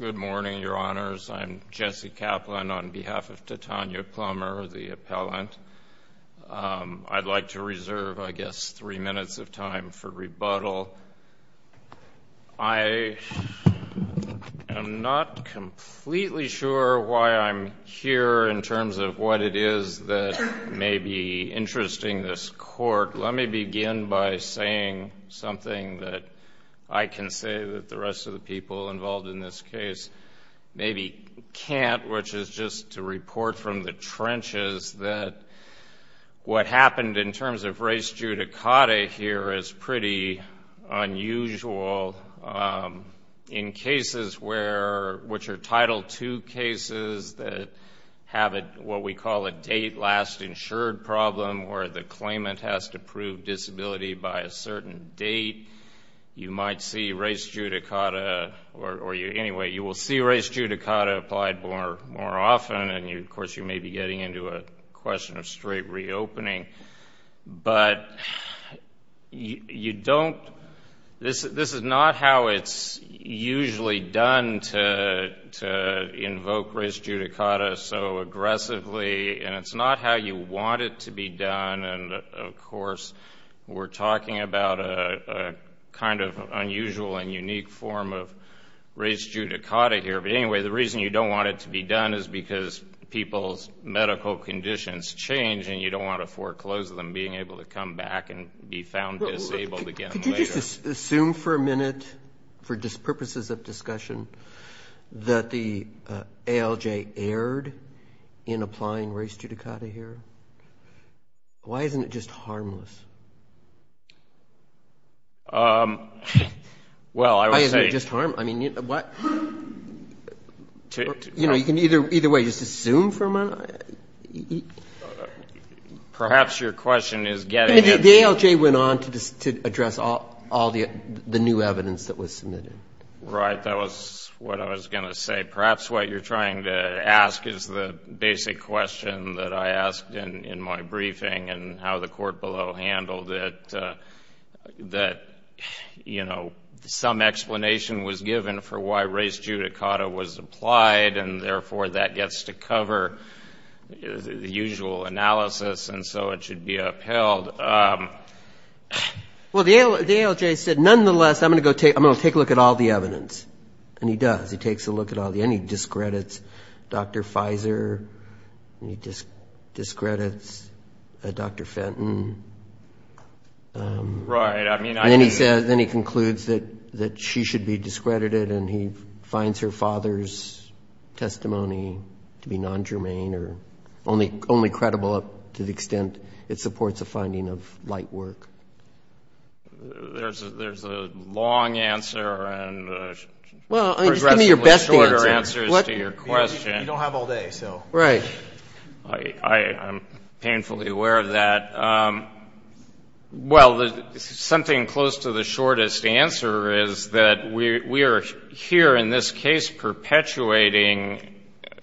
Good morning, Your Honors. I'm Jesse Kaplan on behalf of Tatyana Plummer, the appellant. I'd like to reserve, I guess, three minutes of time for rebuttal. I am not completely sure why I'm here in terms of what it is that may be interesting this Court. Let me begin by saying something that I can say that the rest of the people involved in this case maybe can't, which is just to report from the trenches that what happened in terms of race judicata here is pretty unusual. In cases which are Title II cases that have what we call a date-last-insured problem where the claimant has to prove disability by a certain date, you might see race judicata, or anyway, you will see race judicata applied more often. Of course, you may be getting into a question of straight reopening, but this is not how it's usually done to invoke race judicata so aggressively, and it's not how you want it to be done. And, of course, we're talking about a kind of unusual and unique form of race judicata here, but anyway, the reason you don't want it to be done is because people's medical conditions change and you don't want to foreclose them being able to come back and be found disabled again later. Can we just assume for a minute, for purposes of discussion, that the ALJ erred in applying race judicata here? Why isn't it just harmless? Why isn't it just harmless? I mean, what? You know, you can either way just assume for a minute. Perhaps your question is getting at... The ALJ went on to address all the new evidence that was submitted. Right, that was what I was going to say. Perhaps what you're trying to ask is the basic question that I asked in my briefing and how the court below handled it, that, you know, some explanation was given for why race judicata was applied and, therefore, that gets to cover the usual analysis and so it should be upheld. Well, the ALJ said, nonetheless, I'm going to take a look at all the evidence. And he does. He takes a look at all the evidence. He discredits Dr. Fizer. He discredits Dr. Fenton. Right, I mean... And then he concludes that she should be discredited and he finds her father's testimony to be non-germane or only credible up to the extent it supports a finding of light work. There's a long answer and progressively shorter answers to your question. You don't have all day, so... Right. I'm painfully aware of that. Well, something close to the shortest answer is that we are here, in this case, perpetuating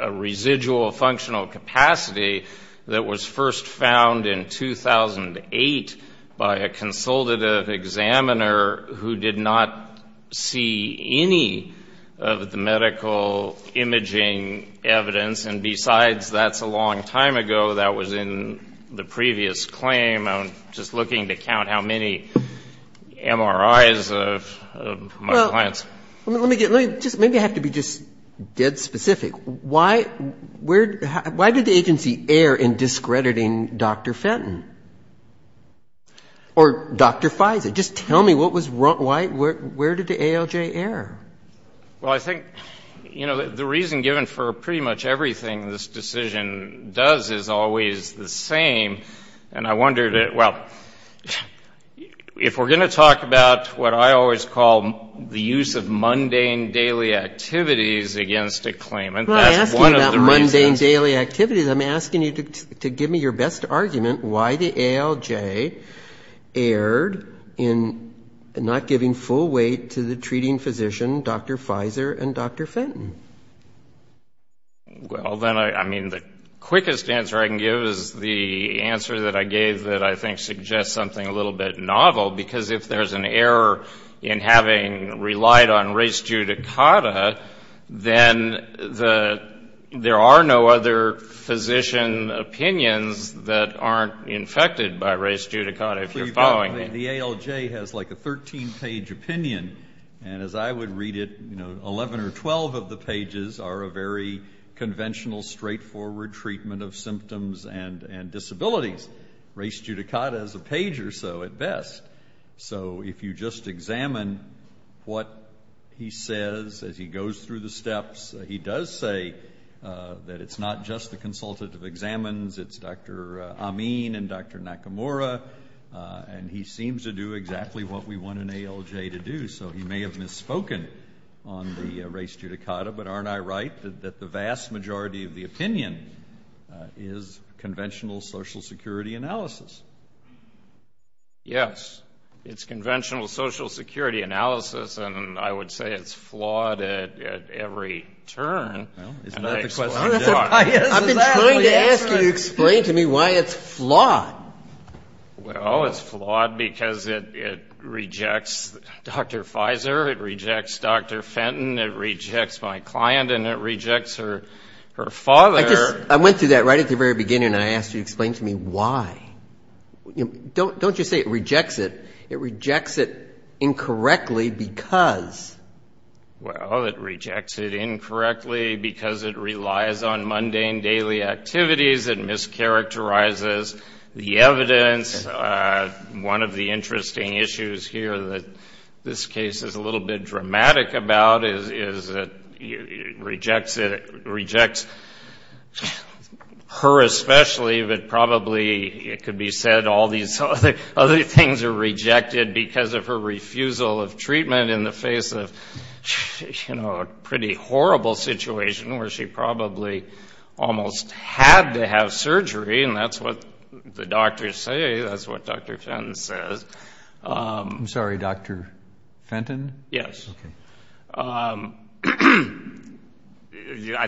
a residual functional capacity that was first found in 2008 by a consultative examiner who did not see any of the medical imaging evidence. And besides, that's a long time ago. That was in the previous claim. I'm just looking to count how many MRIs of my clients. Well, let me get, let me, just, maybe I have to be just dead specific. Why, where, why did the agency err in discrediting Dr. Fenton or Dr. Fizer? Just tell me what was, why, where did the ALJ err? Well, I think, you know, the reason given for pretty much everything this decision does is always the same. And I wonder that, well, if we're going to talk about what I always call the use of mundane daily activities against a claimant, that's one of the reasons. I'm asking you to give me your best argument why the ALJ erred in not giving full weight to the treating physician, Dr. Fizer and Dr. Fenton. Well, then, I mean, the quickest answer I can give is the answer that I gave that I think suggests something a little bit novel. Because if there's an error in having relied on res judicata, then the, there are no other physician opinions that aren't infected by res judicata, if you're following me. The ALJ has like a 13-page opinion. And as I would read it, you know, 11 or 12 of the pages are a very conventional, straightforward treatment of symptoms and disabilities. Res judicata is a page or so at best. So if you just examine what he says as he goes through the steps, he does say that it's not just the consultative examines, it's Dr. Amin and Dr. Nakamura. And he seems to do exactly what we want an ALJ to do. So he may have misspoken on the res judicata. But aren't I right that the vast majority of the opinion is conventional Social Security analysis? Yes. It's conventional Social Security analysis. And I would say it's flawed at every turn. Well, isn't that the question? I've been trying to ask you to explain to me why it's flawed. Well, it's flawed because it rejects Dr. Pfizer, it rejects Dr. Fenton, it rejects my client, and it rejects her father. I went through that right at the very beginning and I asked you to explain to me why. Don't just say it rejects it. It rejects it incorrectly because. Well, it rejects it incorrectly because it relies on mundane daily activities. It mischaracterizes the evidence. One of the interesting issues here that this case is a little bit dramatic about is that it rejects her especially, but probably it could be said all these other things are rejected because of her refusal of treatment in the face of, you know, a pretty horrible situation where she probably almost had to have surgery. And that's what the doctors say. That's what Dr. Fenton says. I'm sorry, Dr. Fenton? Yes. I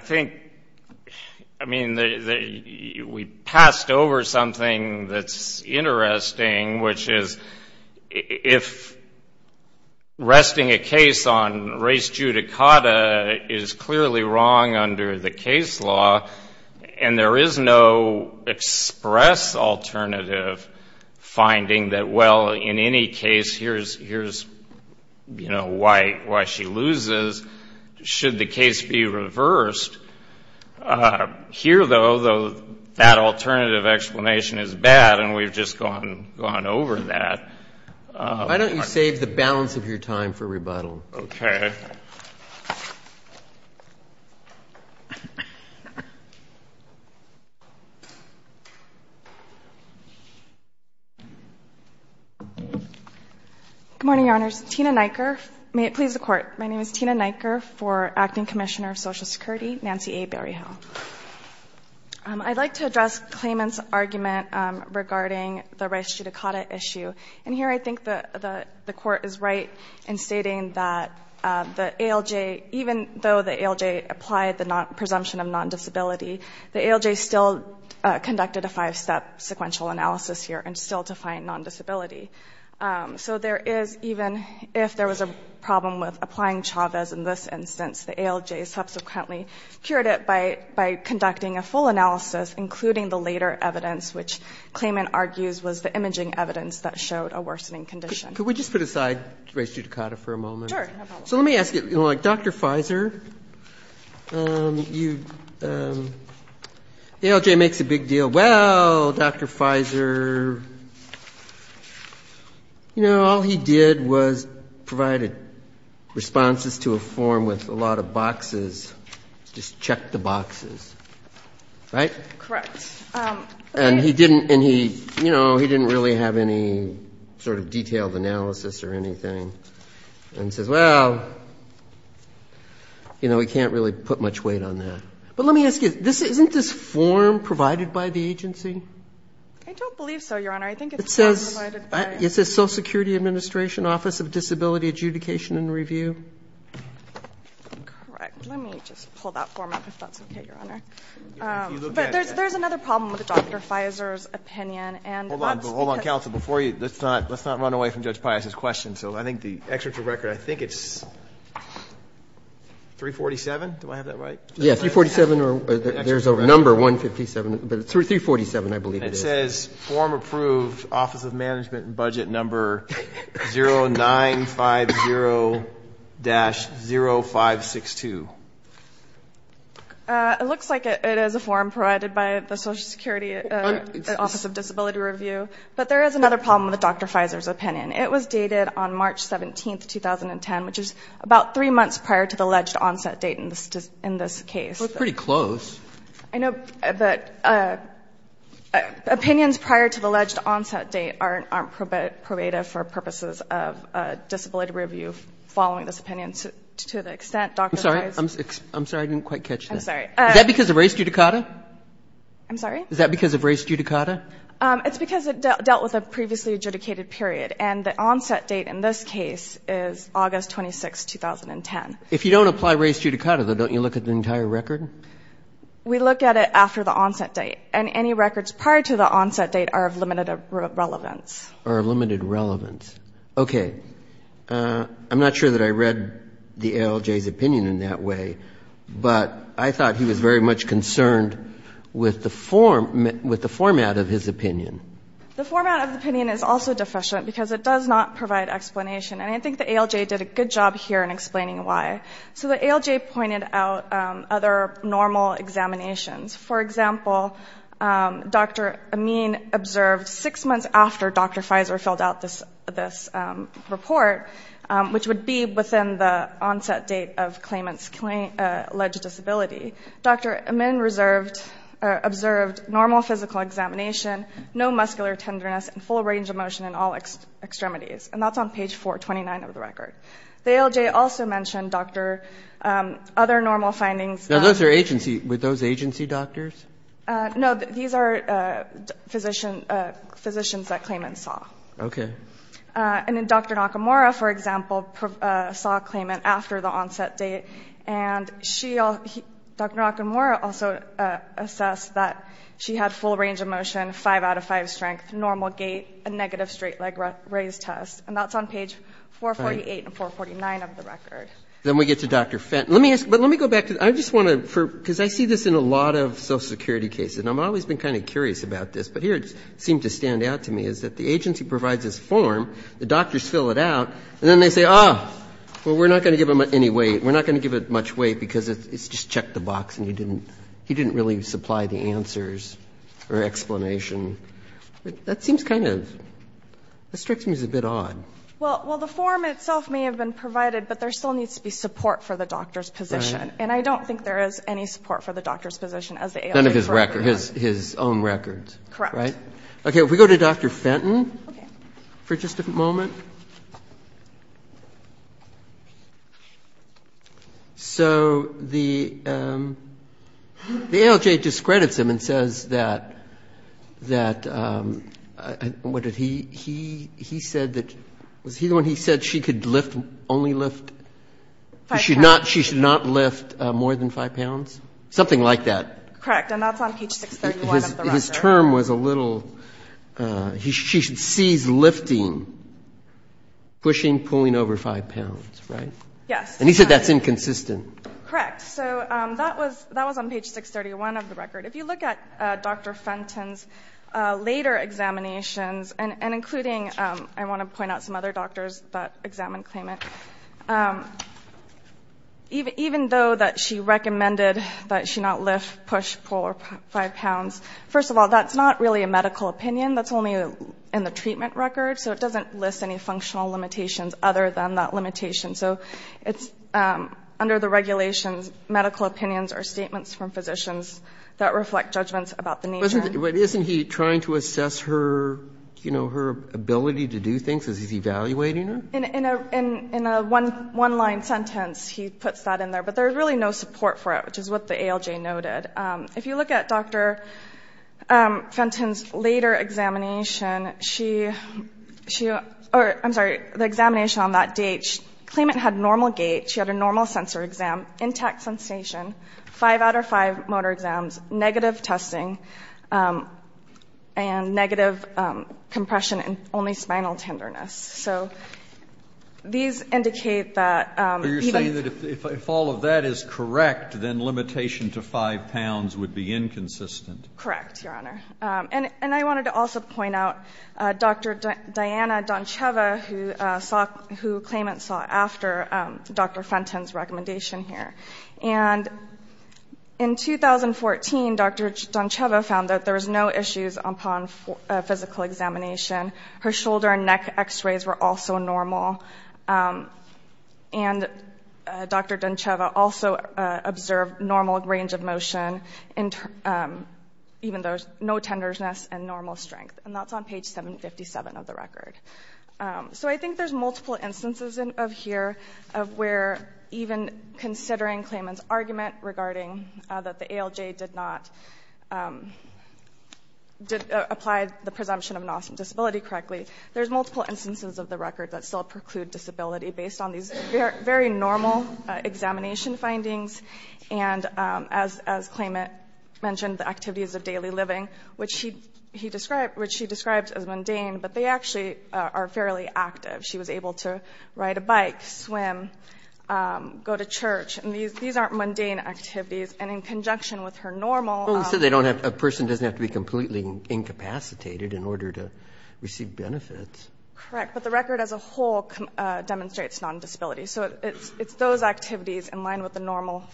think, I mean, we passed over something that's interesting, which is if resting a case on race judicata is clearly wrong under the case law and there is no express alternative finding that, well, in any case, here's, you know, why she loses, should the case be reversed. Here, though, that alternative explanation is bad, and we've just gone over that. Why don't you save the balance of your time for rebuttal? Okay. Good morning, Your Honors. Tina Neiker. May it please the Court. My name is Tina Neiker for Acting Commissioner of Social Security, Nancy A. Berryhill. I'd like to address Clayman's argument regarding the race judicata issue. And here I think the Court is right in stating that the ALJ, even though the ALJ applied the presumption of non-disability, the ALJ still conducted a five-step sequential analysis here and still defined non-disability. So there is, even if there was a problem with applying Chavez in this instance, the ALJ subsequently cured it by conducting a full analysis, including the later evidence, which Clayman argues was the imaging evidence that showed a worsening condition. Could we just put aside race judicata for a moment? Sure. So let me ask you, like, Dr. Fizer, you, ALJ makes a big deal. Well, Dr. Fizer, you know, all he did was provide responses to a form with a lot of boxes. Just check the boxes. Right? Correct. And he didn't, you know, he didn't really have any sort of detailed analysis or anything. And he says, well, you know, we can't really put much weight on that. But let me ask you, isn't this form provided by the agency? I don't believe so, Your Honor. I think it's provided by the agency. It says Social Security Administration Office of Disability Adjudication and Review. Correct. Let me just pull that form up, if that's okay, Your Honor. But there's another problem with Dr. Fizer's opinion. Hold on, counsel. Before you, let's not run away from Judge Pius's question. So I think the excerpt from the record, I think it's 347. Do I have that right? Yeah, 347. There's a number, 157. But it's 347, I believe it is. It says, form approved, Office of Management and Budget Number 0950-0562. It looks like it is a form provided by the Social Security Office of Disability Review. But there is another problem with Dr. Fizer's opinion. It was dated on March 17, 2010, which is about three months prior to the alleged onset date in this case. That's pretty close. I know that opinions prior to the alleged onset date aren't probative for purposes of disability review following this opinion. To the extent Dr. Fizer's ---- I'm sorry. I'm sorry, I didn't quite catch that. I'm sorry. Is that because of race judicata? I'm sorry? Is that because of race judicata? It's because it dealt with a previously adjudicated period. And the onset date in this case is August 26, 2010. If you don't apply race judicata, though, don't you look at the entire record? We look at it after the onset date. And any records prior to the onset date are of limited relevance. Are of limited relevance. Okay. I'm not sure that I read the ALJ's opinion in that way. But I thought he was very much concerned with the format of his opinion. The format of the opinion is also deficient because it does not provide explanation. And I think the ALJ did a good job here in explaining why. So the ALJ pointed out other normal examinations. For example, Dr. Amin observed six months after Dr. Fizer filled out this report, which would be within the onset date of claimant's alleged disability. Dr. Amin observed normal physical examination, no muscular tenderness, and full range of motion in all extremities. And that's on page 429 of the record. The ALJ also mentioned, Dr., other normal findings. Now, those are agency. Were those agency doctors? No, these are physicians that claimants saw. Okay. And then Dr. Nakamura, for example, saw a claimant after the onset date. And she, Dr. Nakamura also assessed that she had full range of motion, five out of five strength, normal gait, a negative straight leg raise test. And that's on page 448 and 449 of the record. Then we get to Dr. Fenton. Let me ask, but let me go back to, I just want to, because I see this in a lot of social security cases, and I've always been kind of curious about this, but here it seemed to stand out to me is that the agency provides this form, the doctors fill it out, and then they say, ah, well, we're not going to give him any weight. We're not going to give it much weight because it's just check the box, and he didn't really supply the answers or explanation. That seems kind of, that strikes me as a bit odd. Well, the form itself may have been provided, but there still needs to be support for the doctor's position. And I don't think there is any support for the doctor's position as the ALJ. None of his records, his own records. Correct. Okay. If we go to Dr. Fenton for just a moment. So the ALJ discredits him and says that, what did he, he said that, was he the one who said she could lift, only lift, she should not lift more than 5 pounds? Something like that. Correct. And that's on page 631 of the record. His term was a little, she sees lifting, pushing, pulling over 5 pounds, right? Yes. And he said that's inconsistent. Correct. So that was on page 631 of the record. If you look at Dr. Fenton's later examinations, and including, I want to point out some other doctors that examined Clayman, even though that she recommended that she not lift, push, pull over 5 pounds, first of all, that's not really a medical opinion. That's only in the treatment record. So it doesn't list any functional limitations other than that limitation. So it's under the regulations, medical opinions are statements from physicians that reflect judgments about the nature. But isn't he trying to assess her, you know, her ability to do things? Is he evaluating her? In a one-line sentence, he puts that in there. But there's really no support for it, which is what the ALJ noted. If you look at Dr. Fenton's later examination, she, I'm sorry, the examination on that date, Clayman had normal gait, she had a normal sensor exam, intact sensation, 5 out of 5 motor exams, negative testing, and negative compression and only spinal tenderness. So these indicate that he might have been. So you're saying that if all of that is correct, then limitation to 5 pounds would be inconsistent? Correct, Your Honor. And I wanted to also point out Dr. Diana Donceva, who Clayman saw after Dr. Fenton's recommendation here. And in 2014, Dr. Donceva found that there was no issues upon physical examination. Her shoulder and neck x-rays were also normal. And Dr. Donceva also observed normal range of motion, even though no tenderness and normal strength. And that's on page 757 of the record. So I think there's multiple instances of here of where even considering Clayman's argument regarding that the ALJ did not apply the presumption of an autism disability correctly, there's multiple instances of the record that still preclude disability based on these very normal examination findings. And as Clayman mentioned, the activities of daily living, which he described as mundane, but they actually are fairly active. She was able to ride a bike, swim, go to church. And these aren't mundane activities. And in conjunction with her normal office. Well, they said a person doesn't have to be completely incapacitated in order to receive benefits. Correct. But the record as a whole demonstrates non-disability. So it's those activities in line with the normal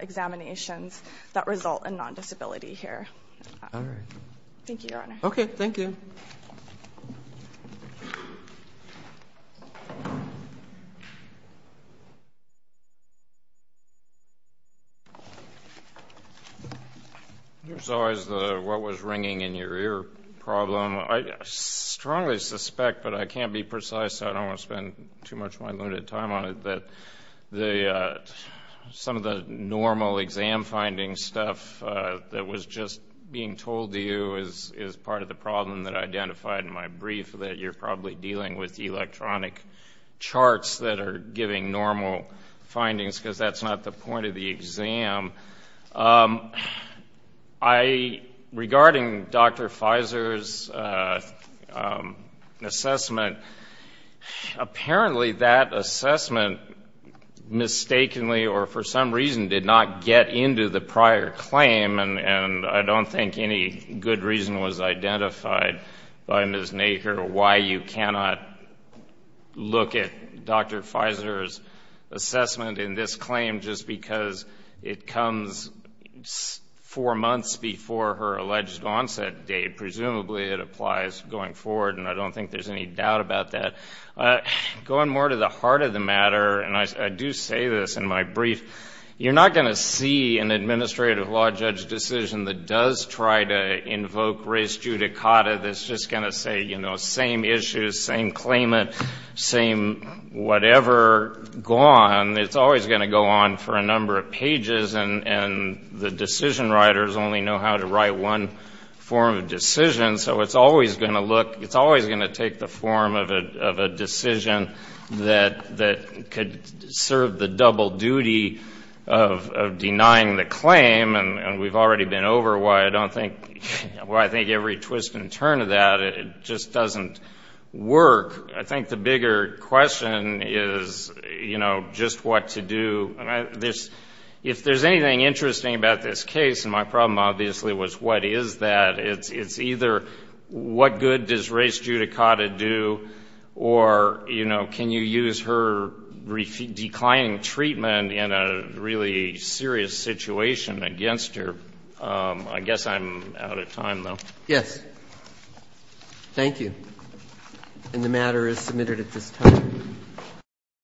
examinations that result in non-disability here. All right. Thank you, Your Honor. Okay. Thank you. There's always the what was ringing in your ear problem. I strongly suspect, but I can't be precise so I don't want to spend too much of my limited time on it, that some of the normal exam finding stuff that was just being told to you is part of the problem that I identified in my brief, that you're probably dealing with electronic charts that are giving normal findings because that's not the point of the exam. Regarding Dr. Fizer's assessment, apparently that assessment mistakenly or for some reason did not get into the prior claim. And I don't think any good reason was identified by Ms. Nacre why you cannot look at Dr. Fizer's assessment in this claim just because it comes four months before her alleged onset date. Presumably it applies going forward, and I don't think there's any doubt about that. Going more to the heart of the matter, and I do say this in my brief, you're not going to see an administrative law judge decision that does try to invoke res judicata that's just going to say, you know, same issue, same claimant, same whatever, gone. It's always going to go on for a number of pages, and the decision writers only know how to write one form of decision. So it's always going to look, it's always going to take the form of a decision that could serve the double duty of denying the claim, and we've already been over why I think every twist and turn of that just doesn't work. I think the bigger question is, you know, just what to do. If there's anything interesting about this case, and my problem obviously was what is that, it's either what good does res judicata do, or, you know, can you use her declining treatment in a really serious situation against her. I guess I'm out of time, though. Yes. Thank you. And the matter is submitted at this time.